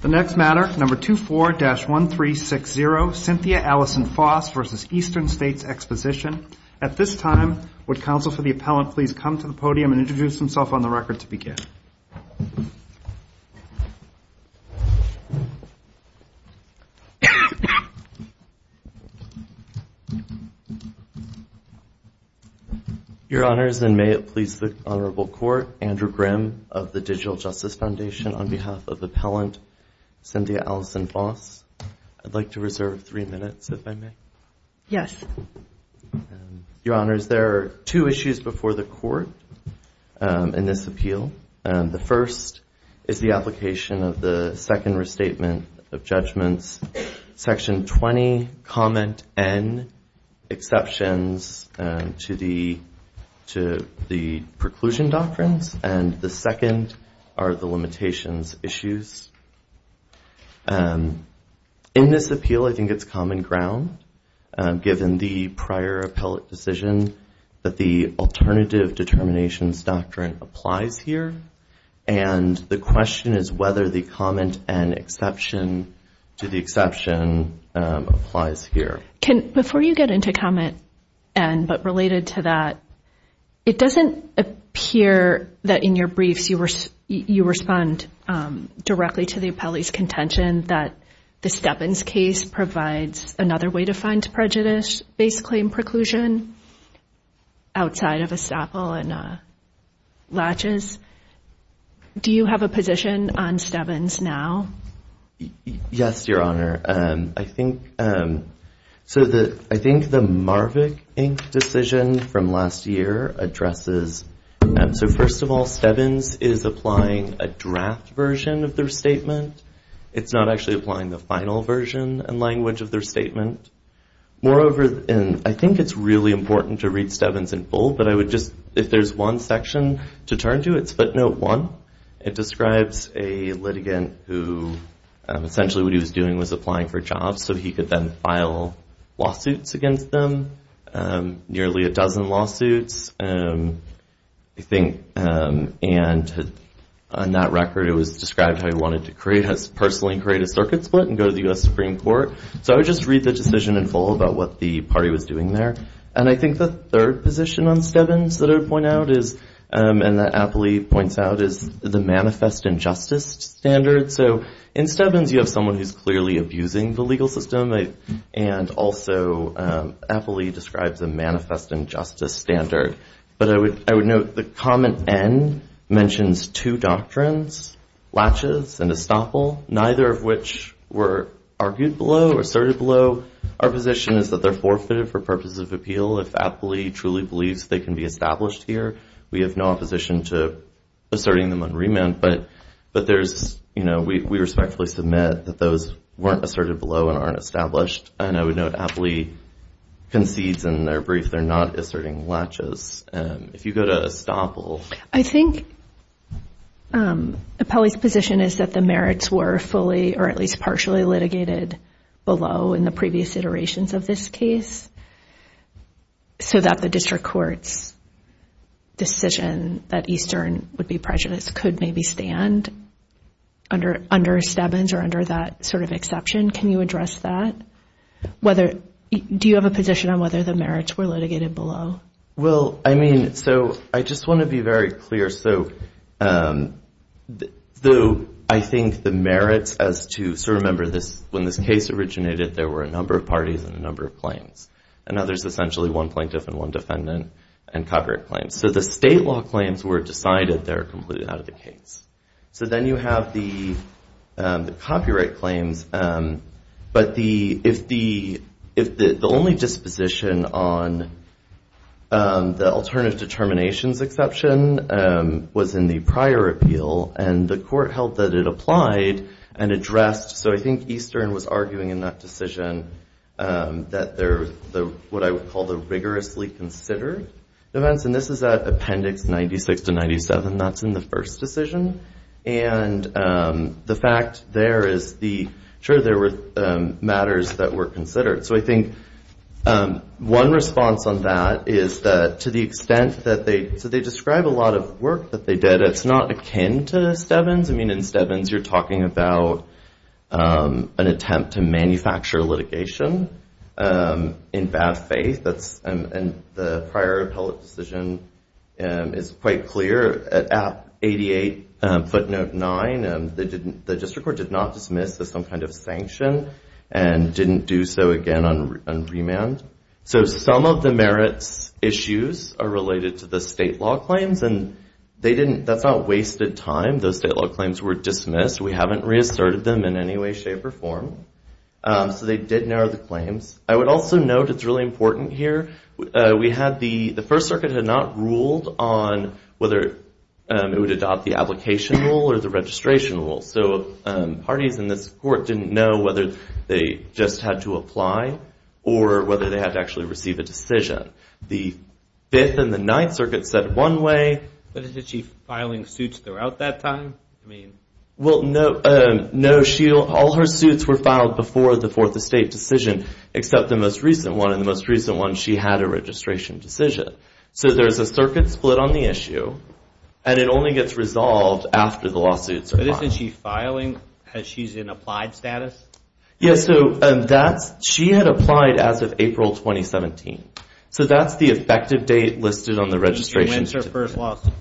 The next matter, number 24-1360, Cynthia Allison Foss v. Eastern States Exposition. At this time, would counsel for the appellant please come to the podium and introduce himself on the record to begin? Your Honors, and may it please the Honorable Court, Andrew Grimm of the Digital Justice Foundation, on behalf of appellant Cynthia Allison Foss. I'd like to reserve three minutes, if I may. Yes. Your Honors, there are two issues before the Court in this appeal. The first is the application of the second restatement of judgments, Section 20, Comment N, Exceptions to the Preclusion Doctrines. And the second are the limitations issues. In this appeal, I think it's common ground, given the prior appellate decision, that the Alternative Determinations Doctrine applies here. And the question is whether the Comment N exception to the exception applies here. Before you get into Comment N, but related to that, it doesn't appear that in your briefs you respond directly to the appellee's contention that the Steppens case provides another way to find prejudice, basically in preclusion, outside of estoppel and latches. Do you have a position on Steppens now? Yes, Your Honor. I think the Marvick, Inc. decision from last year addresses, so first of all, Steppens is applying a draft version of their statement. It's not actually applying the final version and language of their statement. Moreover, and I think it's really important to read Steppens in full, but I would just, if there's one section to turn to, it's Footnote 1. It describes a litigant who essentially what he was doing was applying for jobs, so he could then file lawsuits against them, nearly a dozen lawsuits. And on that record, it was described how he wanted to personally create a circuit split and go to the U.S. Supreme Court. So I would just read the decision in full about what the party was doing there. And I think the third position on Steppens that I would point out is, and the appellee points out, is the manifest injustice standard. So in Steppens, you have someone who's clearly abusing the legal system, and also appellee describes a manifest injustice standard. But I would note the comment N mentions two doctrines, latches and estoppel, neither of which were argued below or asserted below. Our position is that they're forfeited for purposes of appeal if appellee truly believes they can be established here. We have no opposition to asserting them on remand, but we respectfully submit that those weren't asserted below and aren't established. And I would note appellee concedes in their brief they're not asserting latches. If you go to estoppel. I think appellee's position is that the merits were fully or at least partially litigated below in the previous iterations of this case so that the district court's decision that Eastern would be prejudiced could maybe stand under Steppens or under that sort of exception. Can you address that? Do you have a position on whether the merits were litigated below? Well, I mean, so I just want to be very clear. So I think the merits as to sort of remember when this case originated there were a number of parties and a number of claims. And now there's essentially one plaintiff and one defendant and copyright claims. So the state law claims were decided. They're completely out of the case. So then you have the copyright claims. But the only disposition on the alternative determinations exception was in the prior appeal. And the court held that it applied and addressed. So I think Eastern was arguing in that decision that what I would call the rigorously considered events. And this is at Appendix 96 to 97. That's in the first decision. And the fact there is, sure, there were matters that were considered. So I think one response on that is that to the extent that they, so they describe a lot of work that they did. It's not akin to Steppens. I mean, in Steppens you're talking about an attempt to manufacture litigation in bad faith. And the prior appellate decision is quite clear. At App 88 footnote 9, the district court did not dismiss as some kind of sanction and didn't do so again on remand. So some of the merits issues are related to the state law claims. And that's not wasted time. Those state law claims were dismissed. We haven't reasserted them in any way, shape, or form. So they did narrow the claims. I would also note, it's really important here, we had the First Circuit had not ruled on whether it would adopt the application rule or the registration rule. So parties in this court didn't know whether they just had to apply or whether they had to actually receive a decision. The Fifth and the Ninth Circuit said one way. But is the Chief filing suits throughout that time? Well, no. All her suits were filed before the Fourth Estate decision. Except the most recent one, and the most recent one, she had a registration decision. So there's a circuit split on the issue. And it only gets resolved after the lawsuits are filed. But isn't she filing as she's in applied status? Yeah, so she had applied as of April 2017. So that's the effective date listed on the registration. When's her first lawsuit?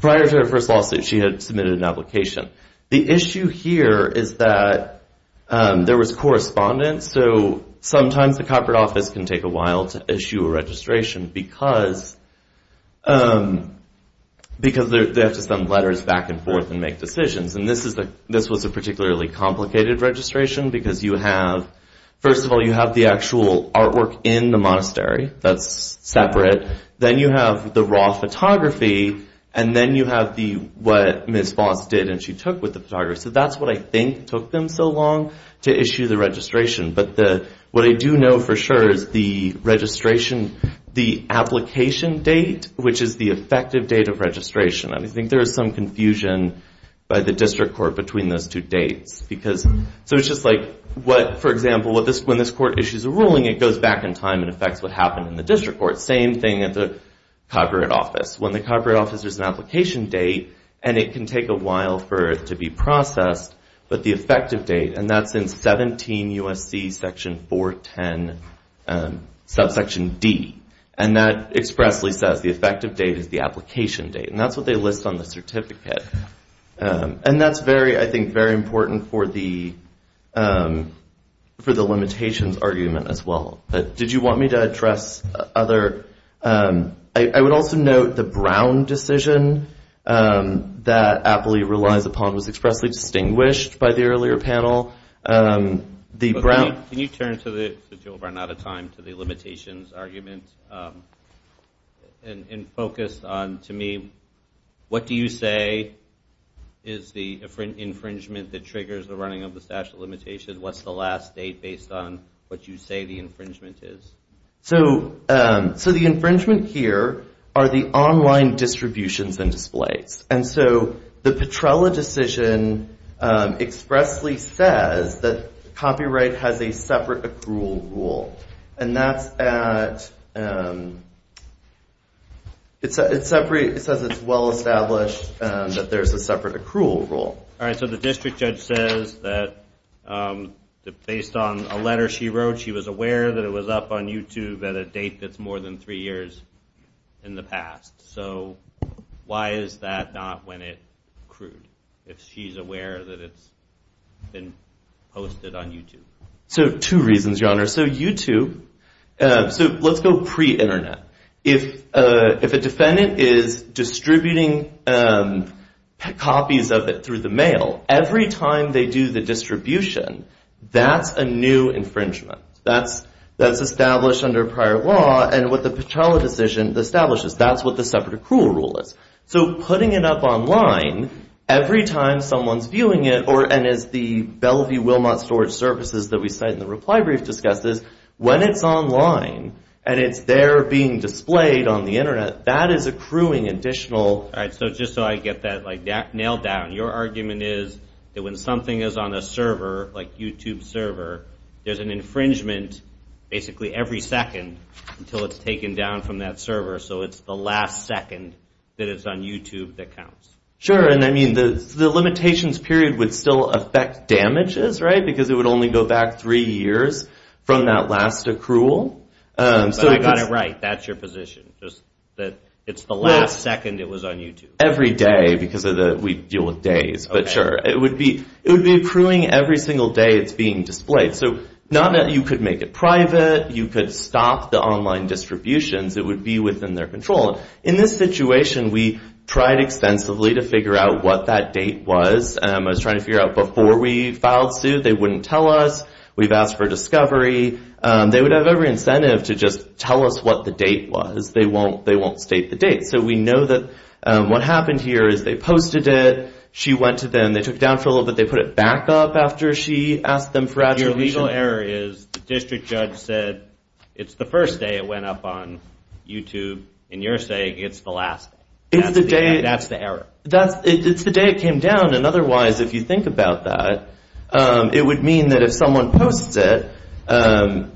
Prior to her first lawsuit, she had submitted an application. The issue here is that there was correspondence. So sometimes the Copyright Office can take a while to issue a registration because they have to send letters back and forth and make decisions. And this was a particularly complicated registration because you have, first of all, you have the actual artwork in the monastery that's separate. Then you have the raw photography. And then you have what Ms. Voss did and she took with the photographer. So that's what I think took them so long to issue the registration. But what I do know for sure is the application date, which is the effective date of registration. I think there is some confusion by the District Court between those two dates. So it's just like, for example, when this court issues a ruling, it goes back in time and affects what happened in the District Court. Same thing at the Copyright Office. When the Copyright Office has an application date and it can take a while for it to be processed, but the effective date, and that's in 17 U.S.C. section 410, subsection D, and that expressly says the effective date is the application date. And that's what they list on the certificate. And that's, I think, very important for the limitations argument as well. Did you want me to address other? I would also note the Brown decision that Apley relies upon was expressly distinguished by the earlier panel. Can you turn to the limitations argument and focus on, to me, what do you say is the infringement that triggers the running of the statute of limitations? What's the last date based on what you say the infringement is? So the infringement here are the online distributions and displays. And so the Petrella decision expressly says that copyright has a separate accrual rule. And that's at, it says it's well established that there's a separate accrual rule. All right, so the district judge says that based on a letter she wrote, she was aware that it was up on YouTube at a date that's more than three years in the past. So why is that not when it accrued, if she's aware that it's been posted on YouTube? So two reasons, Your Honor. So YouTube, so let's go pre-internet. If a defendant is distributing copies of it through the mail, every time they do the distribution, that's a new infringement. That's established under prior law. And what the Petrella decision establishes, that's what the separate accrual rule is. So putting it up online, every time someone's viewing it, and as the Bellevue-Wilmot Storage Services that we cite in the reply brief discusses, when it's online and it's there being displayed on the internet, that is accruing additional. All right, so just so I get that nailed down, your argument is that when something is on a server, like YouTube server, there's an infringement basically every second until it's taken down from that server. So it's the last second that it's on YouTube that counts. Sure, and I mean, the limitations period would still affect damages, right? Because it would only go back three years from that last accrual. But I got it right. That's your position. Just that it's the last second it was on YouTube. Every day, because we deal with days, but sure. It would be accruing every single day it's being displayed. So not that you could make it private, you could stop the online distributions. It would be within their control. In this situation, we tried extensively to figure out what that date was. I was trying to figure out before we filed suit, they wouldn't tell us. We've asked for a discovery. They would have every incentive to just tell us what the date was. They won't state the date. So we know that what happened here is they posted it. She went to them. They took it down for a little bit. They put it back up after she asked them for attribution. Your legal error is the district judge said it's the first day it went up on YouTube, and you're saying it's the last day. That's the error. It's the day it came down, and otherwise, if you think about that, it would mean that if someone posts it, and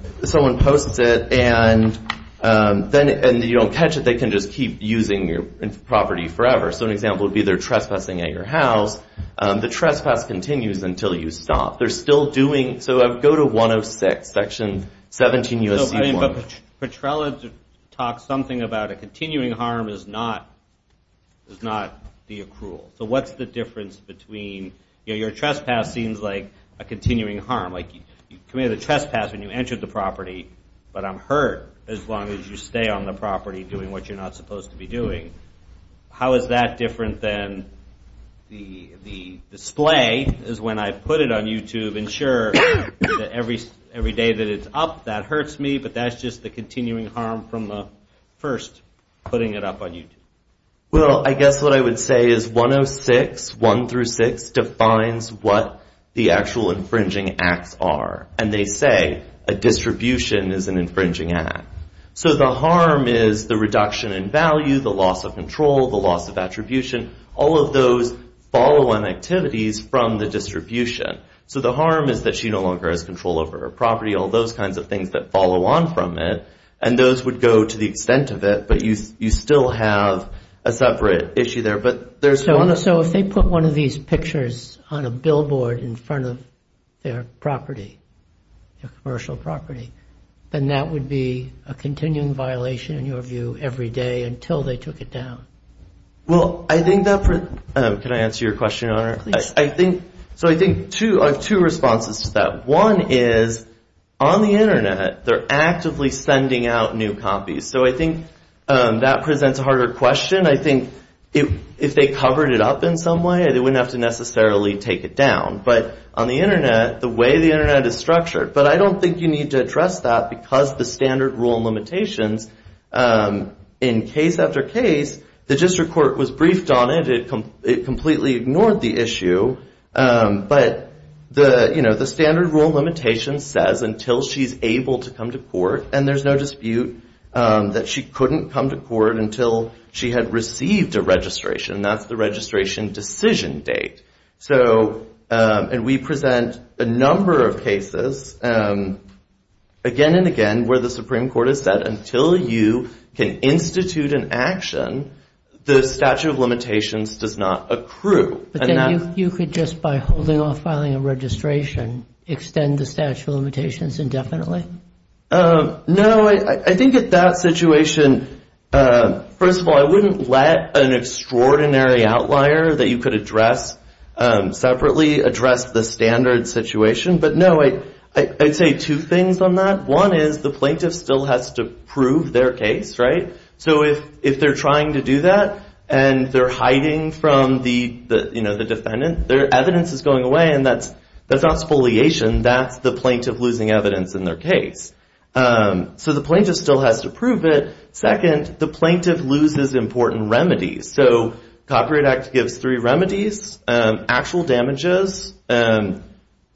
you don't catch it, they can just keep using your property forever. So an example would be they're trespassing at your house. The trespass continues until you stop. They're still doing—so go to 106, Section 17 U.S.C. 1. But Petrella talked something about a continuing harm is not the accrual. So what's the difference between—your trespass seems like a continuing harm. Like you committed a trespass when you entered the property, but I'm hurt as long as you stay on the property doing what you're not supposed to be doing. How is that different than the display is when I put it on YouTube and sure, every day that it's up, that hurts me, but that's just the continuing harm from the first putting it up on YouTube. Well, I guess what I would say is 106, 1 through 6, defines what the actual infringing acts are, and they say a distribution is an infringing act. So the harm is the reduction in value, the loss of control, the loss of attribution, all of those follow-on activities from the distribution. So the harm is that she no longer has control over her property, all those kinds of things that follow on from it, and those would go to the extent of it, but you still have a separate issue there. So if they put one of these pictures on a billboard in front of their property, their commercial property, then that would be a continuing violation in your view every day until they took it down? Well, I think that, can I answer your question, Your Honor? Please. So I think I have two responses to that. One is on the Internet, they're actively sending out new copies. So I think that presents a harder question. I think if they covered it up in some way, they wouldn't have to necessarily take it down. But on the Internet, the way the Internet is structured, but I don't think you need to address that because the standard rule limitations in case after case, the district court was briefed on it, it completely ignored the issue, but the standard rule limitation says until she's able to come to court, and there's no dispute that she couldn't come to court until she had received a registration. That's the registration decision date. And we present a number of cases again and again where the Supreme Court has said, until you can institute an action, the statute of limitations does not accrue. But then you could just by holding off filing a registration extend the statute of limitations indefinitely? No, I think at that situation, first of all, I wouldn't let an extraordinary outlier that you could address separately address the standard situation. But, no, I'd say two things on that. One is the plaintiff still has to prove their case, right? So if they're trying to do that, and they're hiding from the defendant, their evidence is going away, and that's not spoliation, that's the plaintiff losing evidence in their case. So the plaintiff still has to prove it. Second, the plaintiff loses important remedies. So Copyright Act gives three remedies, actual damages,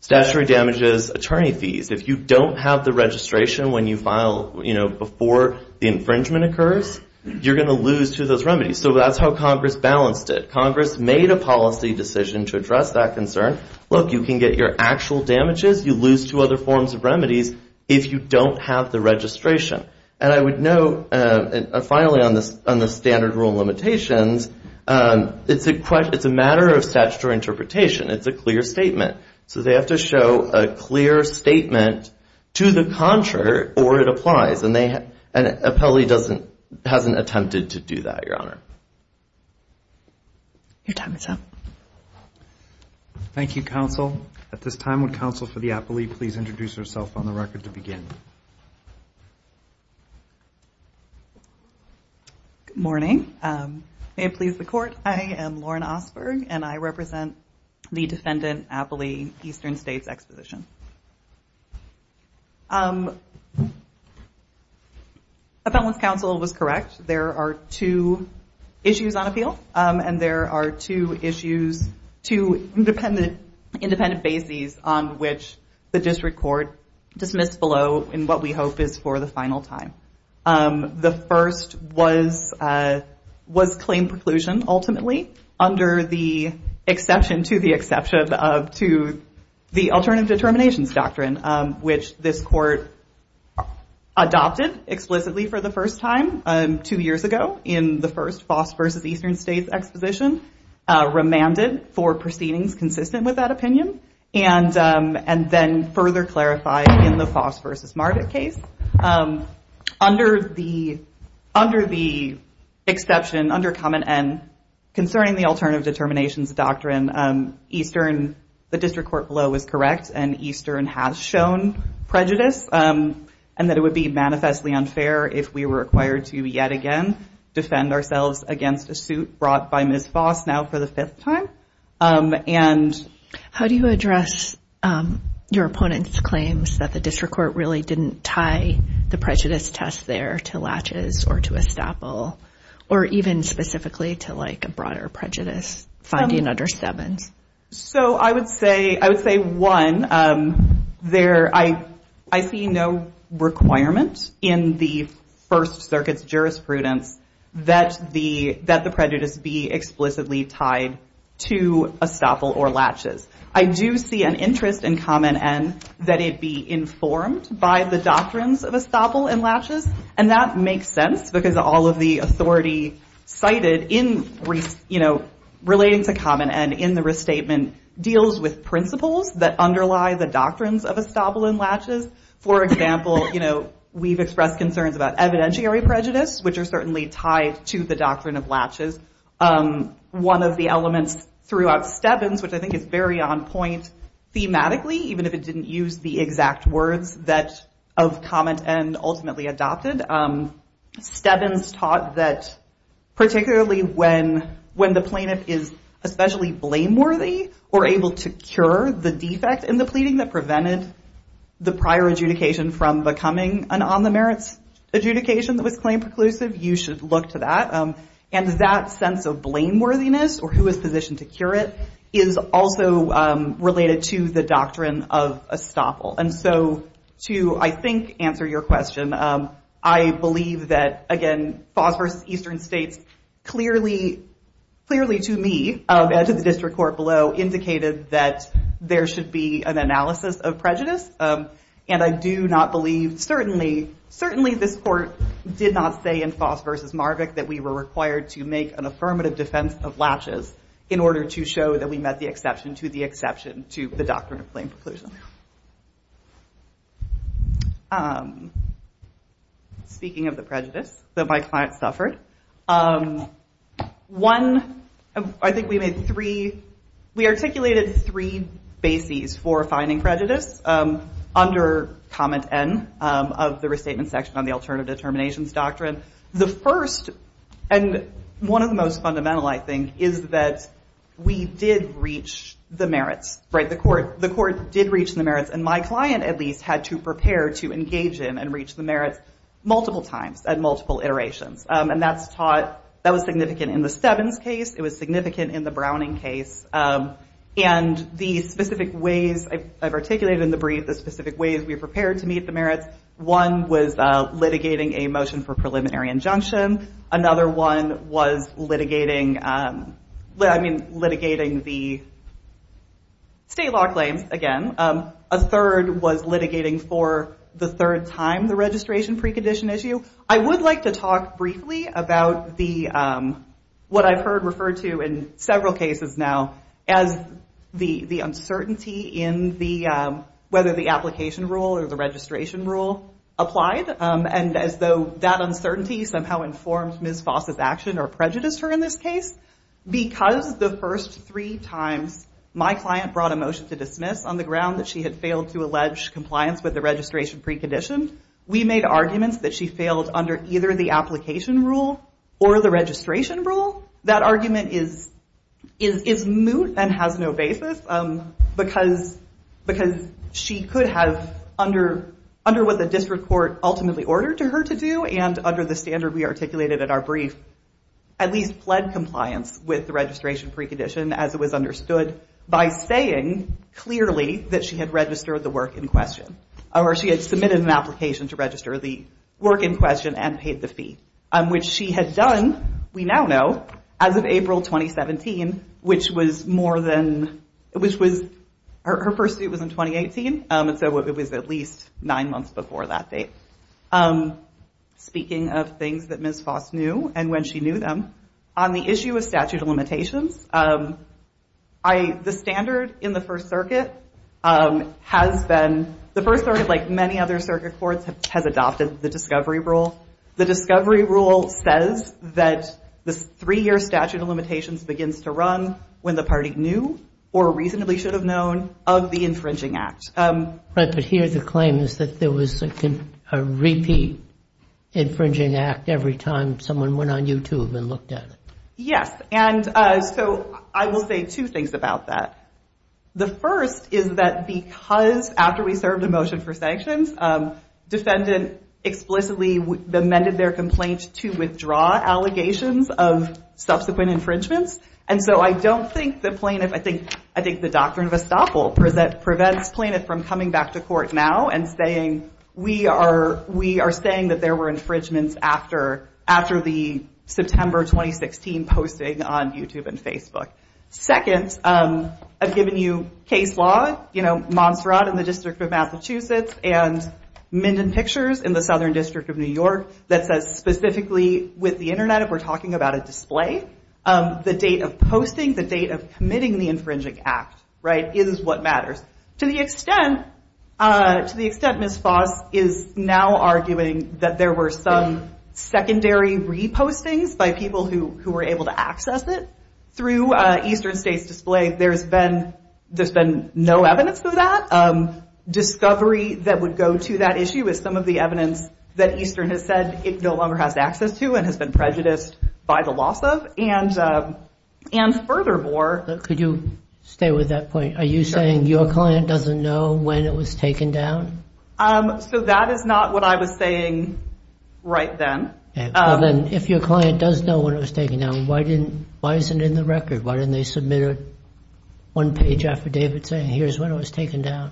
statutory damages, attorney fees. If you don't have the registration when you file, you know, before the infringement occurs, you're going to lose two of those remedies. So that's how Congress balanced it. Congress made a policy decision to address that concern. Look, you can get your actual damages. You lose two other forms of remedies if you don't have the registration. And I would note, finally, on the standard rule limitations, it's a matter of statutory interpretation. It's a clear statement. So they have to show a clear statement to the contrary or it applies, and Appellee hasn't attempted to do that, Your Honor. Your time is up. Thank you, Counsel. At this time, would Counsel for the Appellee please introduce herself on the record to begin? Good morning. May it please the Court, I am Lauren Osberg, and I represent the Defendant Appellee Eastern States Exposition. Appellant's counsel was correct. There are two issues on appeal, and there are two issues, two independent bases, on which the district court dismissed below in what we hope is for the final time. The first was claim preclusion, ultimately, under the exception to the Alternative Determinations Doctrine, which this court adopted explicitly for the first time two years ago in the first Foss v. Eastern States Exposition, remanded for proceedings consistent with that opinion, and then further clarified in the Foss v. Margaret case. Under the exception, under Common End, concerning the Alternative Determinations Doctrine, Eastern, the district court below, was correct, and Eastern has shown prejudice, and that it would be manifestly unfair if we were required to, yet again, defend ourselves against a suit brought by Ms. Foss now for the fifth time. How do you address your opponent's claims that the district court really didn't tie the prejudice test there to latches or to a staple, or even specifically to a broader prejudice finding under Stebbins? I would say, one, I see no requirement in the First Circuit's jurisprudence that the prejudice be explicitly tied to a staple or latches. I do see an interest in Common End that it be informed by the doctrines of a staple and latches, and that makes sense, because all of the authority cited relating to Common End in the restatement deals with principles that underlie the doctrines of a staple and latches. For example, we've expressed concerns about evidentiary prejudice, which are certainly tied to the doctrine of latches. One of the elements throughout Stebbins, which I think is very on point thematically, even if it didn't use the exact words of Common End ultimately adopted, Stebbins taught that particularly when the plaintiff is especially blameworthy or able to cure the defect in the pleading that prevented the prior adjudication from becoming an on-the-merits adjudication that was claim-preclusive, you should look to that. And that sense of blameworthiness, or who is positioned to cure it, is also related to the doctrine of a staple. And so to, I think, answer your question, I believe that, again, FOS vs. Eastern States clearly, to me, and to the district court below, indicated that there should be an analysis of prejudice, and I do not believe, certainly this court did not say in FOS vs. Marvick that we were required to make an affirmative defense of latches in order to show that we met the exception to the exception to the doctrine of claim-preclusion. Speaking of the prejudice that my client suffered, one, I think we made three, we articulated three bases for finding prejudice under Comment N of the Restatement Section on the Alternative Determinations Doctrine. The first, and one of the most fundamental, I think, is that we did reach the merits. The court did reach the merits, and my client, at least, had to prepare to engage in and reach the merits multiple times and multiple iterations, and that's taught, that was significant in the Stebbins case, it was significant in the Browning case, and the specific ways I've articulated in the brief, the specific ways we prepared to meet the merits, one was litigating a motion for preliminary injunction, another one was litigating the state law claims, again, a third was litigating for the third time the registration precondition issue. I would like to talk briefly about the, what I've heard referred to in several cases now, as the uncertainty in the, whether the application rule or the registration rule applied, and as though that uncertainty somehow informed Ms. Foss' action or prejudiced her in this case, because the first three times my client brought a motion to dismiss on the ground that she had failed to allege compliance with the registration precondition, we made arguments that she failed under either the application rule or the registration rule. That argument is moot and has no basis, because she could have, under what the district court ultimately ordered her to do, and under the standard we articulated in our brief, at least pled compliance with the registration precondition, as it was understood, by saying clearly that she had registered the work in question, or she had submitted an application to register the work in question and paid the fee, which she had done, we now know, as of April 2017, which was more than, which was, her first suit was in 2018, and so it was at least nine months before that date. Speaking of things that Ms. Foss knew and when she knew them, on the issue of statute of limitations, the standard in the First Circuit has been, the First Circuit, like many other circuit courts, has adopted the discovery rule. The discovery rule says that the three-year statute of limitations begins to run when the party knew, or reasonably should have known, of the infringing act. Right, but here the claim is that there was a repeat infringing act every time someone went on YouTube and looked at it. Yes, and so I will say two things about that. The first is that because after we served a motion for sanctions, defendant explicitly amended their complaint to withdraw allegations of subsequent infringements, and so I don't think the plaintiff, I think the doctrine of estoppel prevents plaintiff from coming back to court now and saying, we are saying that there were infringements after the September 2016 posting on YouTube and Facebook. Second, I've given you case law, Montserrat in the District of Massachusetts and Minden Pictures in the Southern District of New York that says specifically with the Internet, if we're talking about a display, the date of posting, the date of committing the infringing act, is what matters. To the extent Ms. Foss is now arguing that there were some secondary repostings by people who were able to access it through Eastern State's display, there's been no evidence of that. Discovery that would go to that issue is some of the evidence that Eastern has said it no longer has access to and has been prejudiced by the loss of, and furthermore... Could you stay with that point? Are you saying your client doesn't know when it was taken down? So that is not what I was saying right then. If your client does know when it was taken down, why isn't it in the record? Why didn't they submit a one-page affidavit saying here's when it was taken down?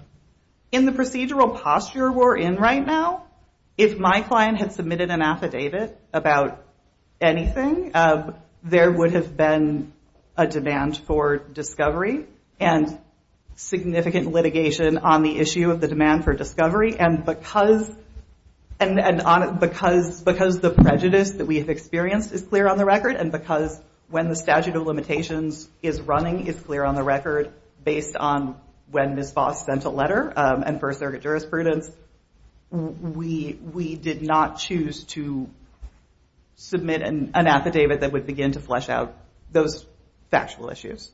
In the procedural posture we're in right now, if my client had submitted an affidavit about anything, there would have been a demand for discovery and significant litigation on the issue of the demand for discovery, and because the prejudice that we have experienced is clear on the record, and because when the statute of limitations is running is clear on the record based on when Ms. Voss sent a letter and First Circuit jurisprudence, we did not choose to submit an affidavit that would begin to flesh out those factual issues.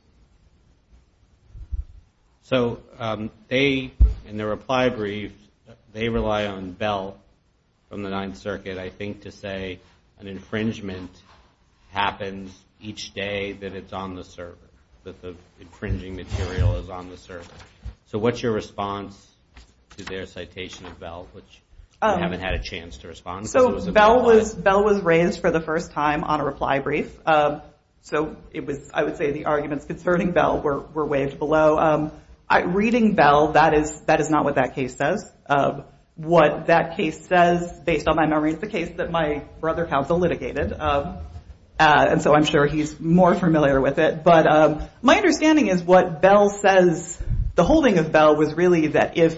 So they, in their reply brief, they rely on Bell from the Ninth Circuit, I think, to say an infringement happens each day that it's on the server, that the infringing material is on the server. So what's your response to their citation of Bell, which we haven't had a chance to respond to? So Bell was raised for the first time on a reply brief, so I would say the arguments concerning Bell were waved below. Reading Bell, that is not what that case says. What that case says, based on my memory, is the case that my brother counsel litigated, and so I'm sure he's more familiar with it, but my understanding is what Bell says, the holding of Bell was really that if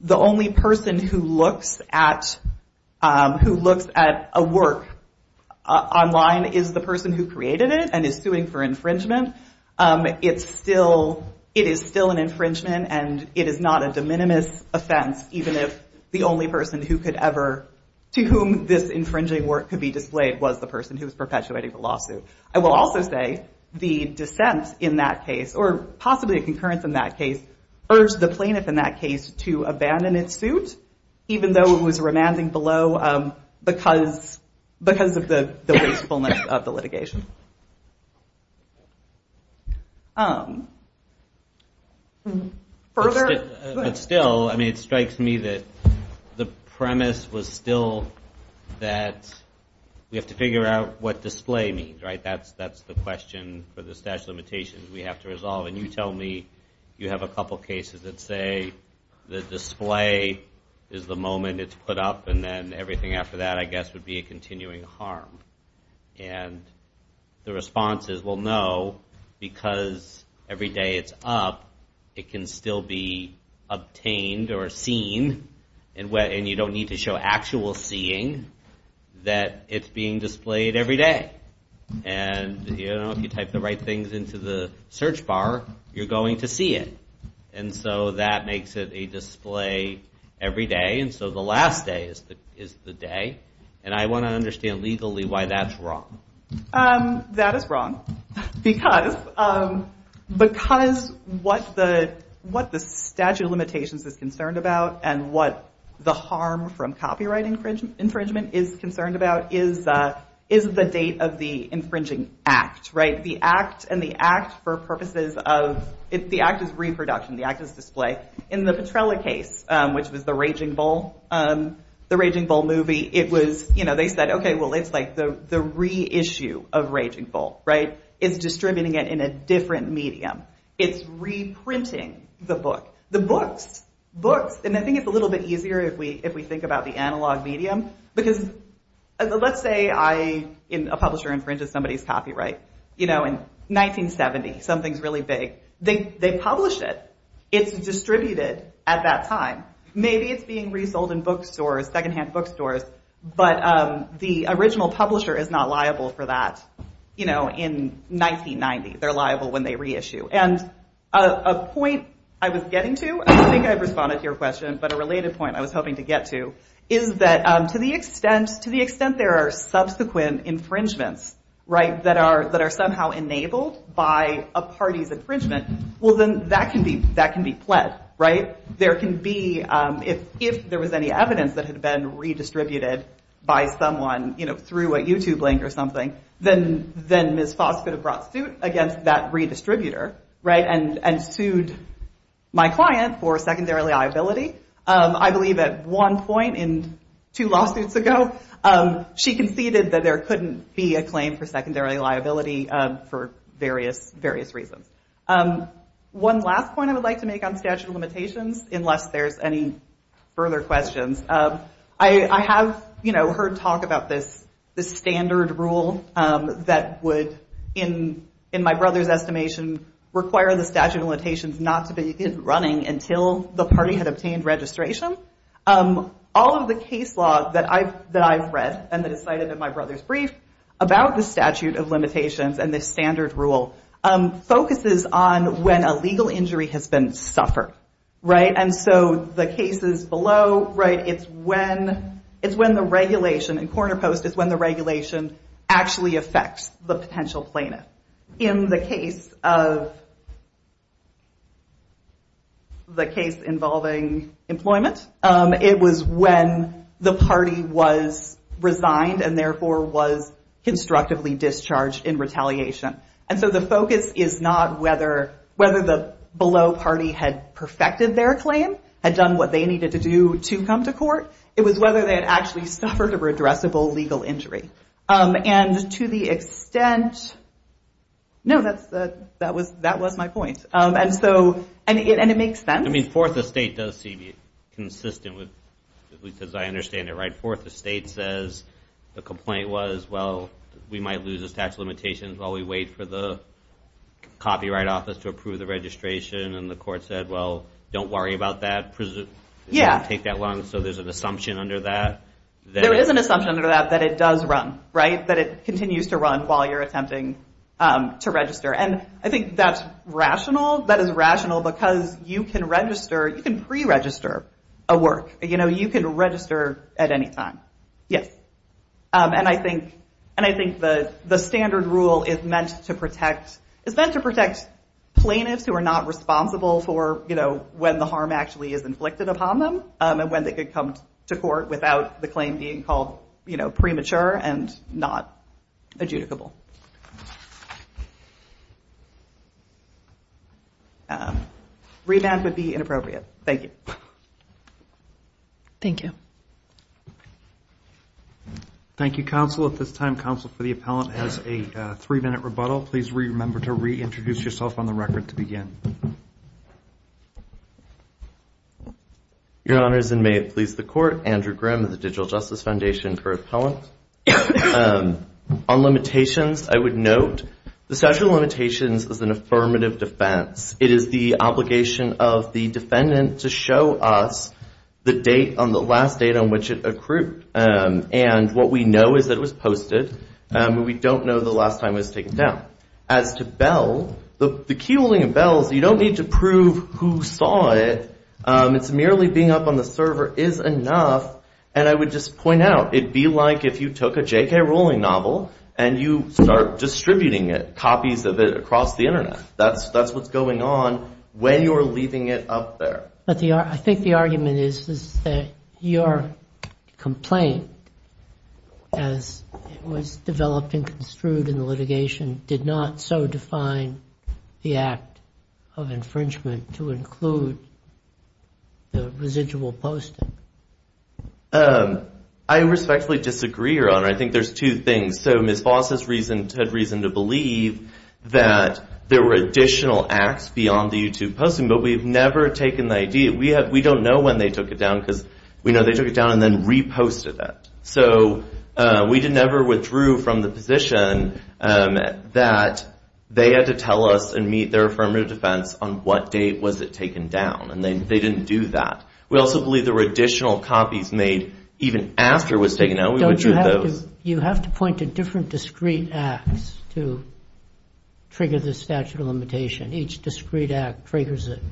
the only person who looks at a work online is the person who created it and is suing for infringement, it is still an infringement and it is not a de minimis offense, even if the only person to whom this infringing work could be displayed was the person who was perpetuating the lawsuit. I will also say the dissent in that case, or possibly a concurrence in that case, urged the plaintiff in that case to abandon its suit, even though it was remanding below because of the wastefulness of the litigation. Further? But still, it strikes me that the premise was still that we have to figure out what display means, right? That's the question for the statute of limitations we have to resolve, and you tell me you have a couple cases that say the display is the moment it's put up and then everything after that, I guess, would be a continuing harm. And the response is, well, no, because every day it's up, it can still be obtained or seen, and you don't need to show actual seeing, that it's being displayed every day. And if you type the right things into the search bar, you're going to see it. And so that makes it a display every day, and so the last day is the day. And I want to understand legally why that's wrong. That is wrong because what the statute of limitations is concerned about and what the harm from copyright infringement is concerned about is the date of the infringing act, right? The act and the act for purposes of... The act is reproduction, the act is display. In the Petrella case, which was the Raging Bull movie, they said, okay, well, it's like the reissue of Raging Bull, right? It's distributing it in a different medium. It's reprinting the book. The books, books, and I think it's a little bit easier if we think about the analog medium, because let's say I, a publisher, infringes somebody's copyright, you know, in 1970, something's really big. They publish it. It's distributed at that time. Maybe it's being resold in bookstores, secondhand bookstores, but the original publisher is not liable for that, you know, in 1990. They're liable when they reissue. And a point I was getting to, I don't think I've responded to your question, but a related point I was hoping to get to, is that to the extent there are subsequent infringements, right, that are somehow enabled by a party's infringement, well, then that can be pled, right? There can be, if there was any evidence that had been redistributed by someone, you know, through a YouTube link or something, then Ms. Foss could have brought suit against that redistributor, right, and sued my client for secondarily liability. I believe at one point in two lawsuits ago, she conceded that there couldn't be a claim for secondary liability for various reasons. One last point I would like to make on statute of limitations, unless there's any further questions. I have, you know, heard talk about this standard rule that would, in my brother's estimation, require the statute of limitations not to begin running until the party had obtained registration. All of the case law that I've read and that is cited in my brother's brief about the statute of limitations and the standard rule focuses on when a legal injury has been suffered, right? And so the cases below, right, it's when the regulation, in corner post, it's when the regulation actually affects the potential plaintiff. In the case of... the case involving employment, it was when the party was resigned and therefore was constructively discharged in retaliation. And so the focus is not whether the below party had perfected their claim, had done what they needed to do to come to court, it was whether they had actually suffered a redressable legal injury. And to the extent... No, that was my point. And so, and it makes sense. I mean, Fourth Estate does seem consistent with... as I understand it, right, Fourth Estate says the complaint was, well, we might lose the statute of limitations while we wait for the copyright office to approve the registration. And the court said, well, don't worry about that. Yeah. So there's an assumption under that. There is an assumption under that that it does run, right? That it continues to run while you're attempting to register. And I think that's rational. That is rational because you can register, you can pre-register a work. You know, you can register at any time. Yes. And I think the standard rule is meant to protect, is meant to protect plaintiffs who are not responsible for, you know, when the harm actually is inflicted upon them and when they could come to court without the claim being called, you know, premature and not adjudicable. Rebound would be inappropriate. Thank you. Thank you. Thank you, Counsel. At this time, Counsel for the Appellant has a three-minute rebuttal. Please remember to reintroduce yourself on the record to begin. Your Honors, and may it please the Court, Andrew Grimm of the Digital Justice Foundation for Appellant. On limitations, I would note the statute of limitations is an affirmative defense. It is the obligation of the defendant to show us the date on the last date on which it accrued. And what we know is that it was posted. We don't know the last time it was taken down. As to Bell, the key holding of Bell is you don't need to prove who saw it. It's merely being up on the server is enough. And I would just point out, it'd be like if you took a J.K. Rowling novel and you start distributing it, you'd have copies of it across the Internet. That's what's going on when you're leaving it up there. I think the argument is that your complaint, as it was developed and construed in the litigation, did not so define the act of infringement to include the residual posting. I respectfully disagree, Your Honor. I think there's two things. So Ms. Voss had reason to believe that there were additional acts beyond the YouTube posting, but we've never taken the ID. We don't know when they took it down because we know they took it down and then reposted it. We never withdrew from the position that they had to tell us and meet their affirmative defense on what date was it taken down, and they didn't do that. We also believe there were additional copies made even after it was taken down. You have to point to different discrete acts to trigger the statute of limitation. Each discrete act triggers it.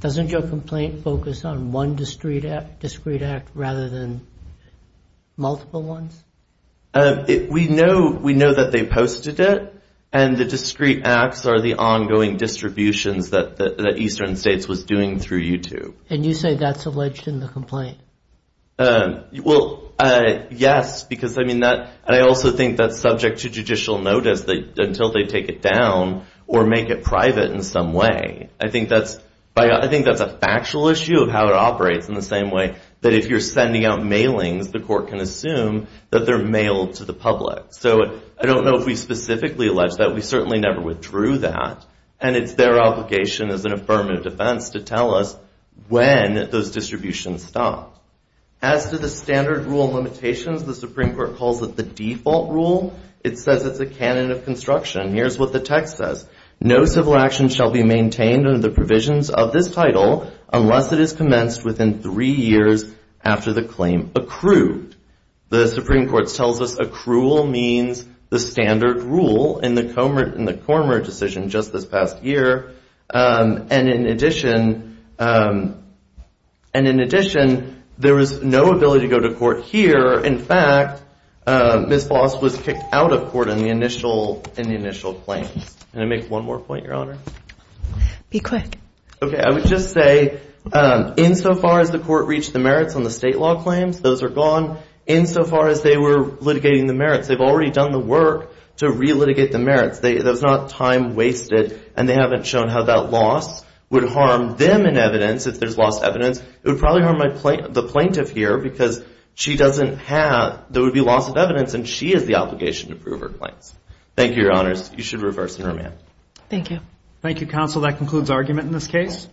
Doesn't your complaint focus on one discrete act rather than multiple ones? We know that they posted it, and the discrete acts are the ongoing distributions that Eastern States was doing through YouTube. And you say that's alleged in the complaint? Well, yes, because I also think that's subject to judicial notice until they take it down or make it private in some way. I think that's a factual issue of how it operates in the same way that if you're sending out mailings, the court can assume that they're mailed to the public. I don't know if we specifically allege that. We certainly never withdrew that, and it's their obligation as an affirmative defense to tell us when those distributions stopped. As to the standard rule limitations, the Supreme Court calls it the default rule. It says it's a canon of construction. Here's what the text says. No civil action shall be maintained under the provisions of this title unless it is commenced within three years after the claim accrued. The Supreme Court tells us accrual means the standard rule in the Comer decision just this past year, and in addition, there was no ability to go to court here. In fact, Ms. Floss was kicked out of court in the initial claims. Can I make one more point, Your Honor? Be quick. Okay, I would just say insofar as the court reached the merits on the state law claims, those are gone. Insofar as they were litigating the merits, they've already done the work to re-litigate the merits. There's not time wasted, and they haven't shown how that loss would harm them in evidence if there's lost evidence. It would probably harm the plaintiff here because she doesn't have there would be loss of evidence, and she has the obligation to prove her claims. Thank you, Your Honors. You should reverse and remand. Thank you. Thank you, Counsel. That concludes argument in this case.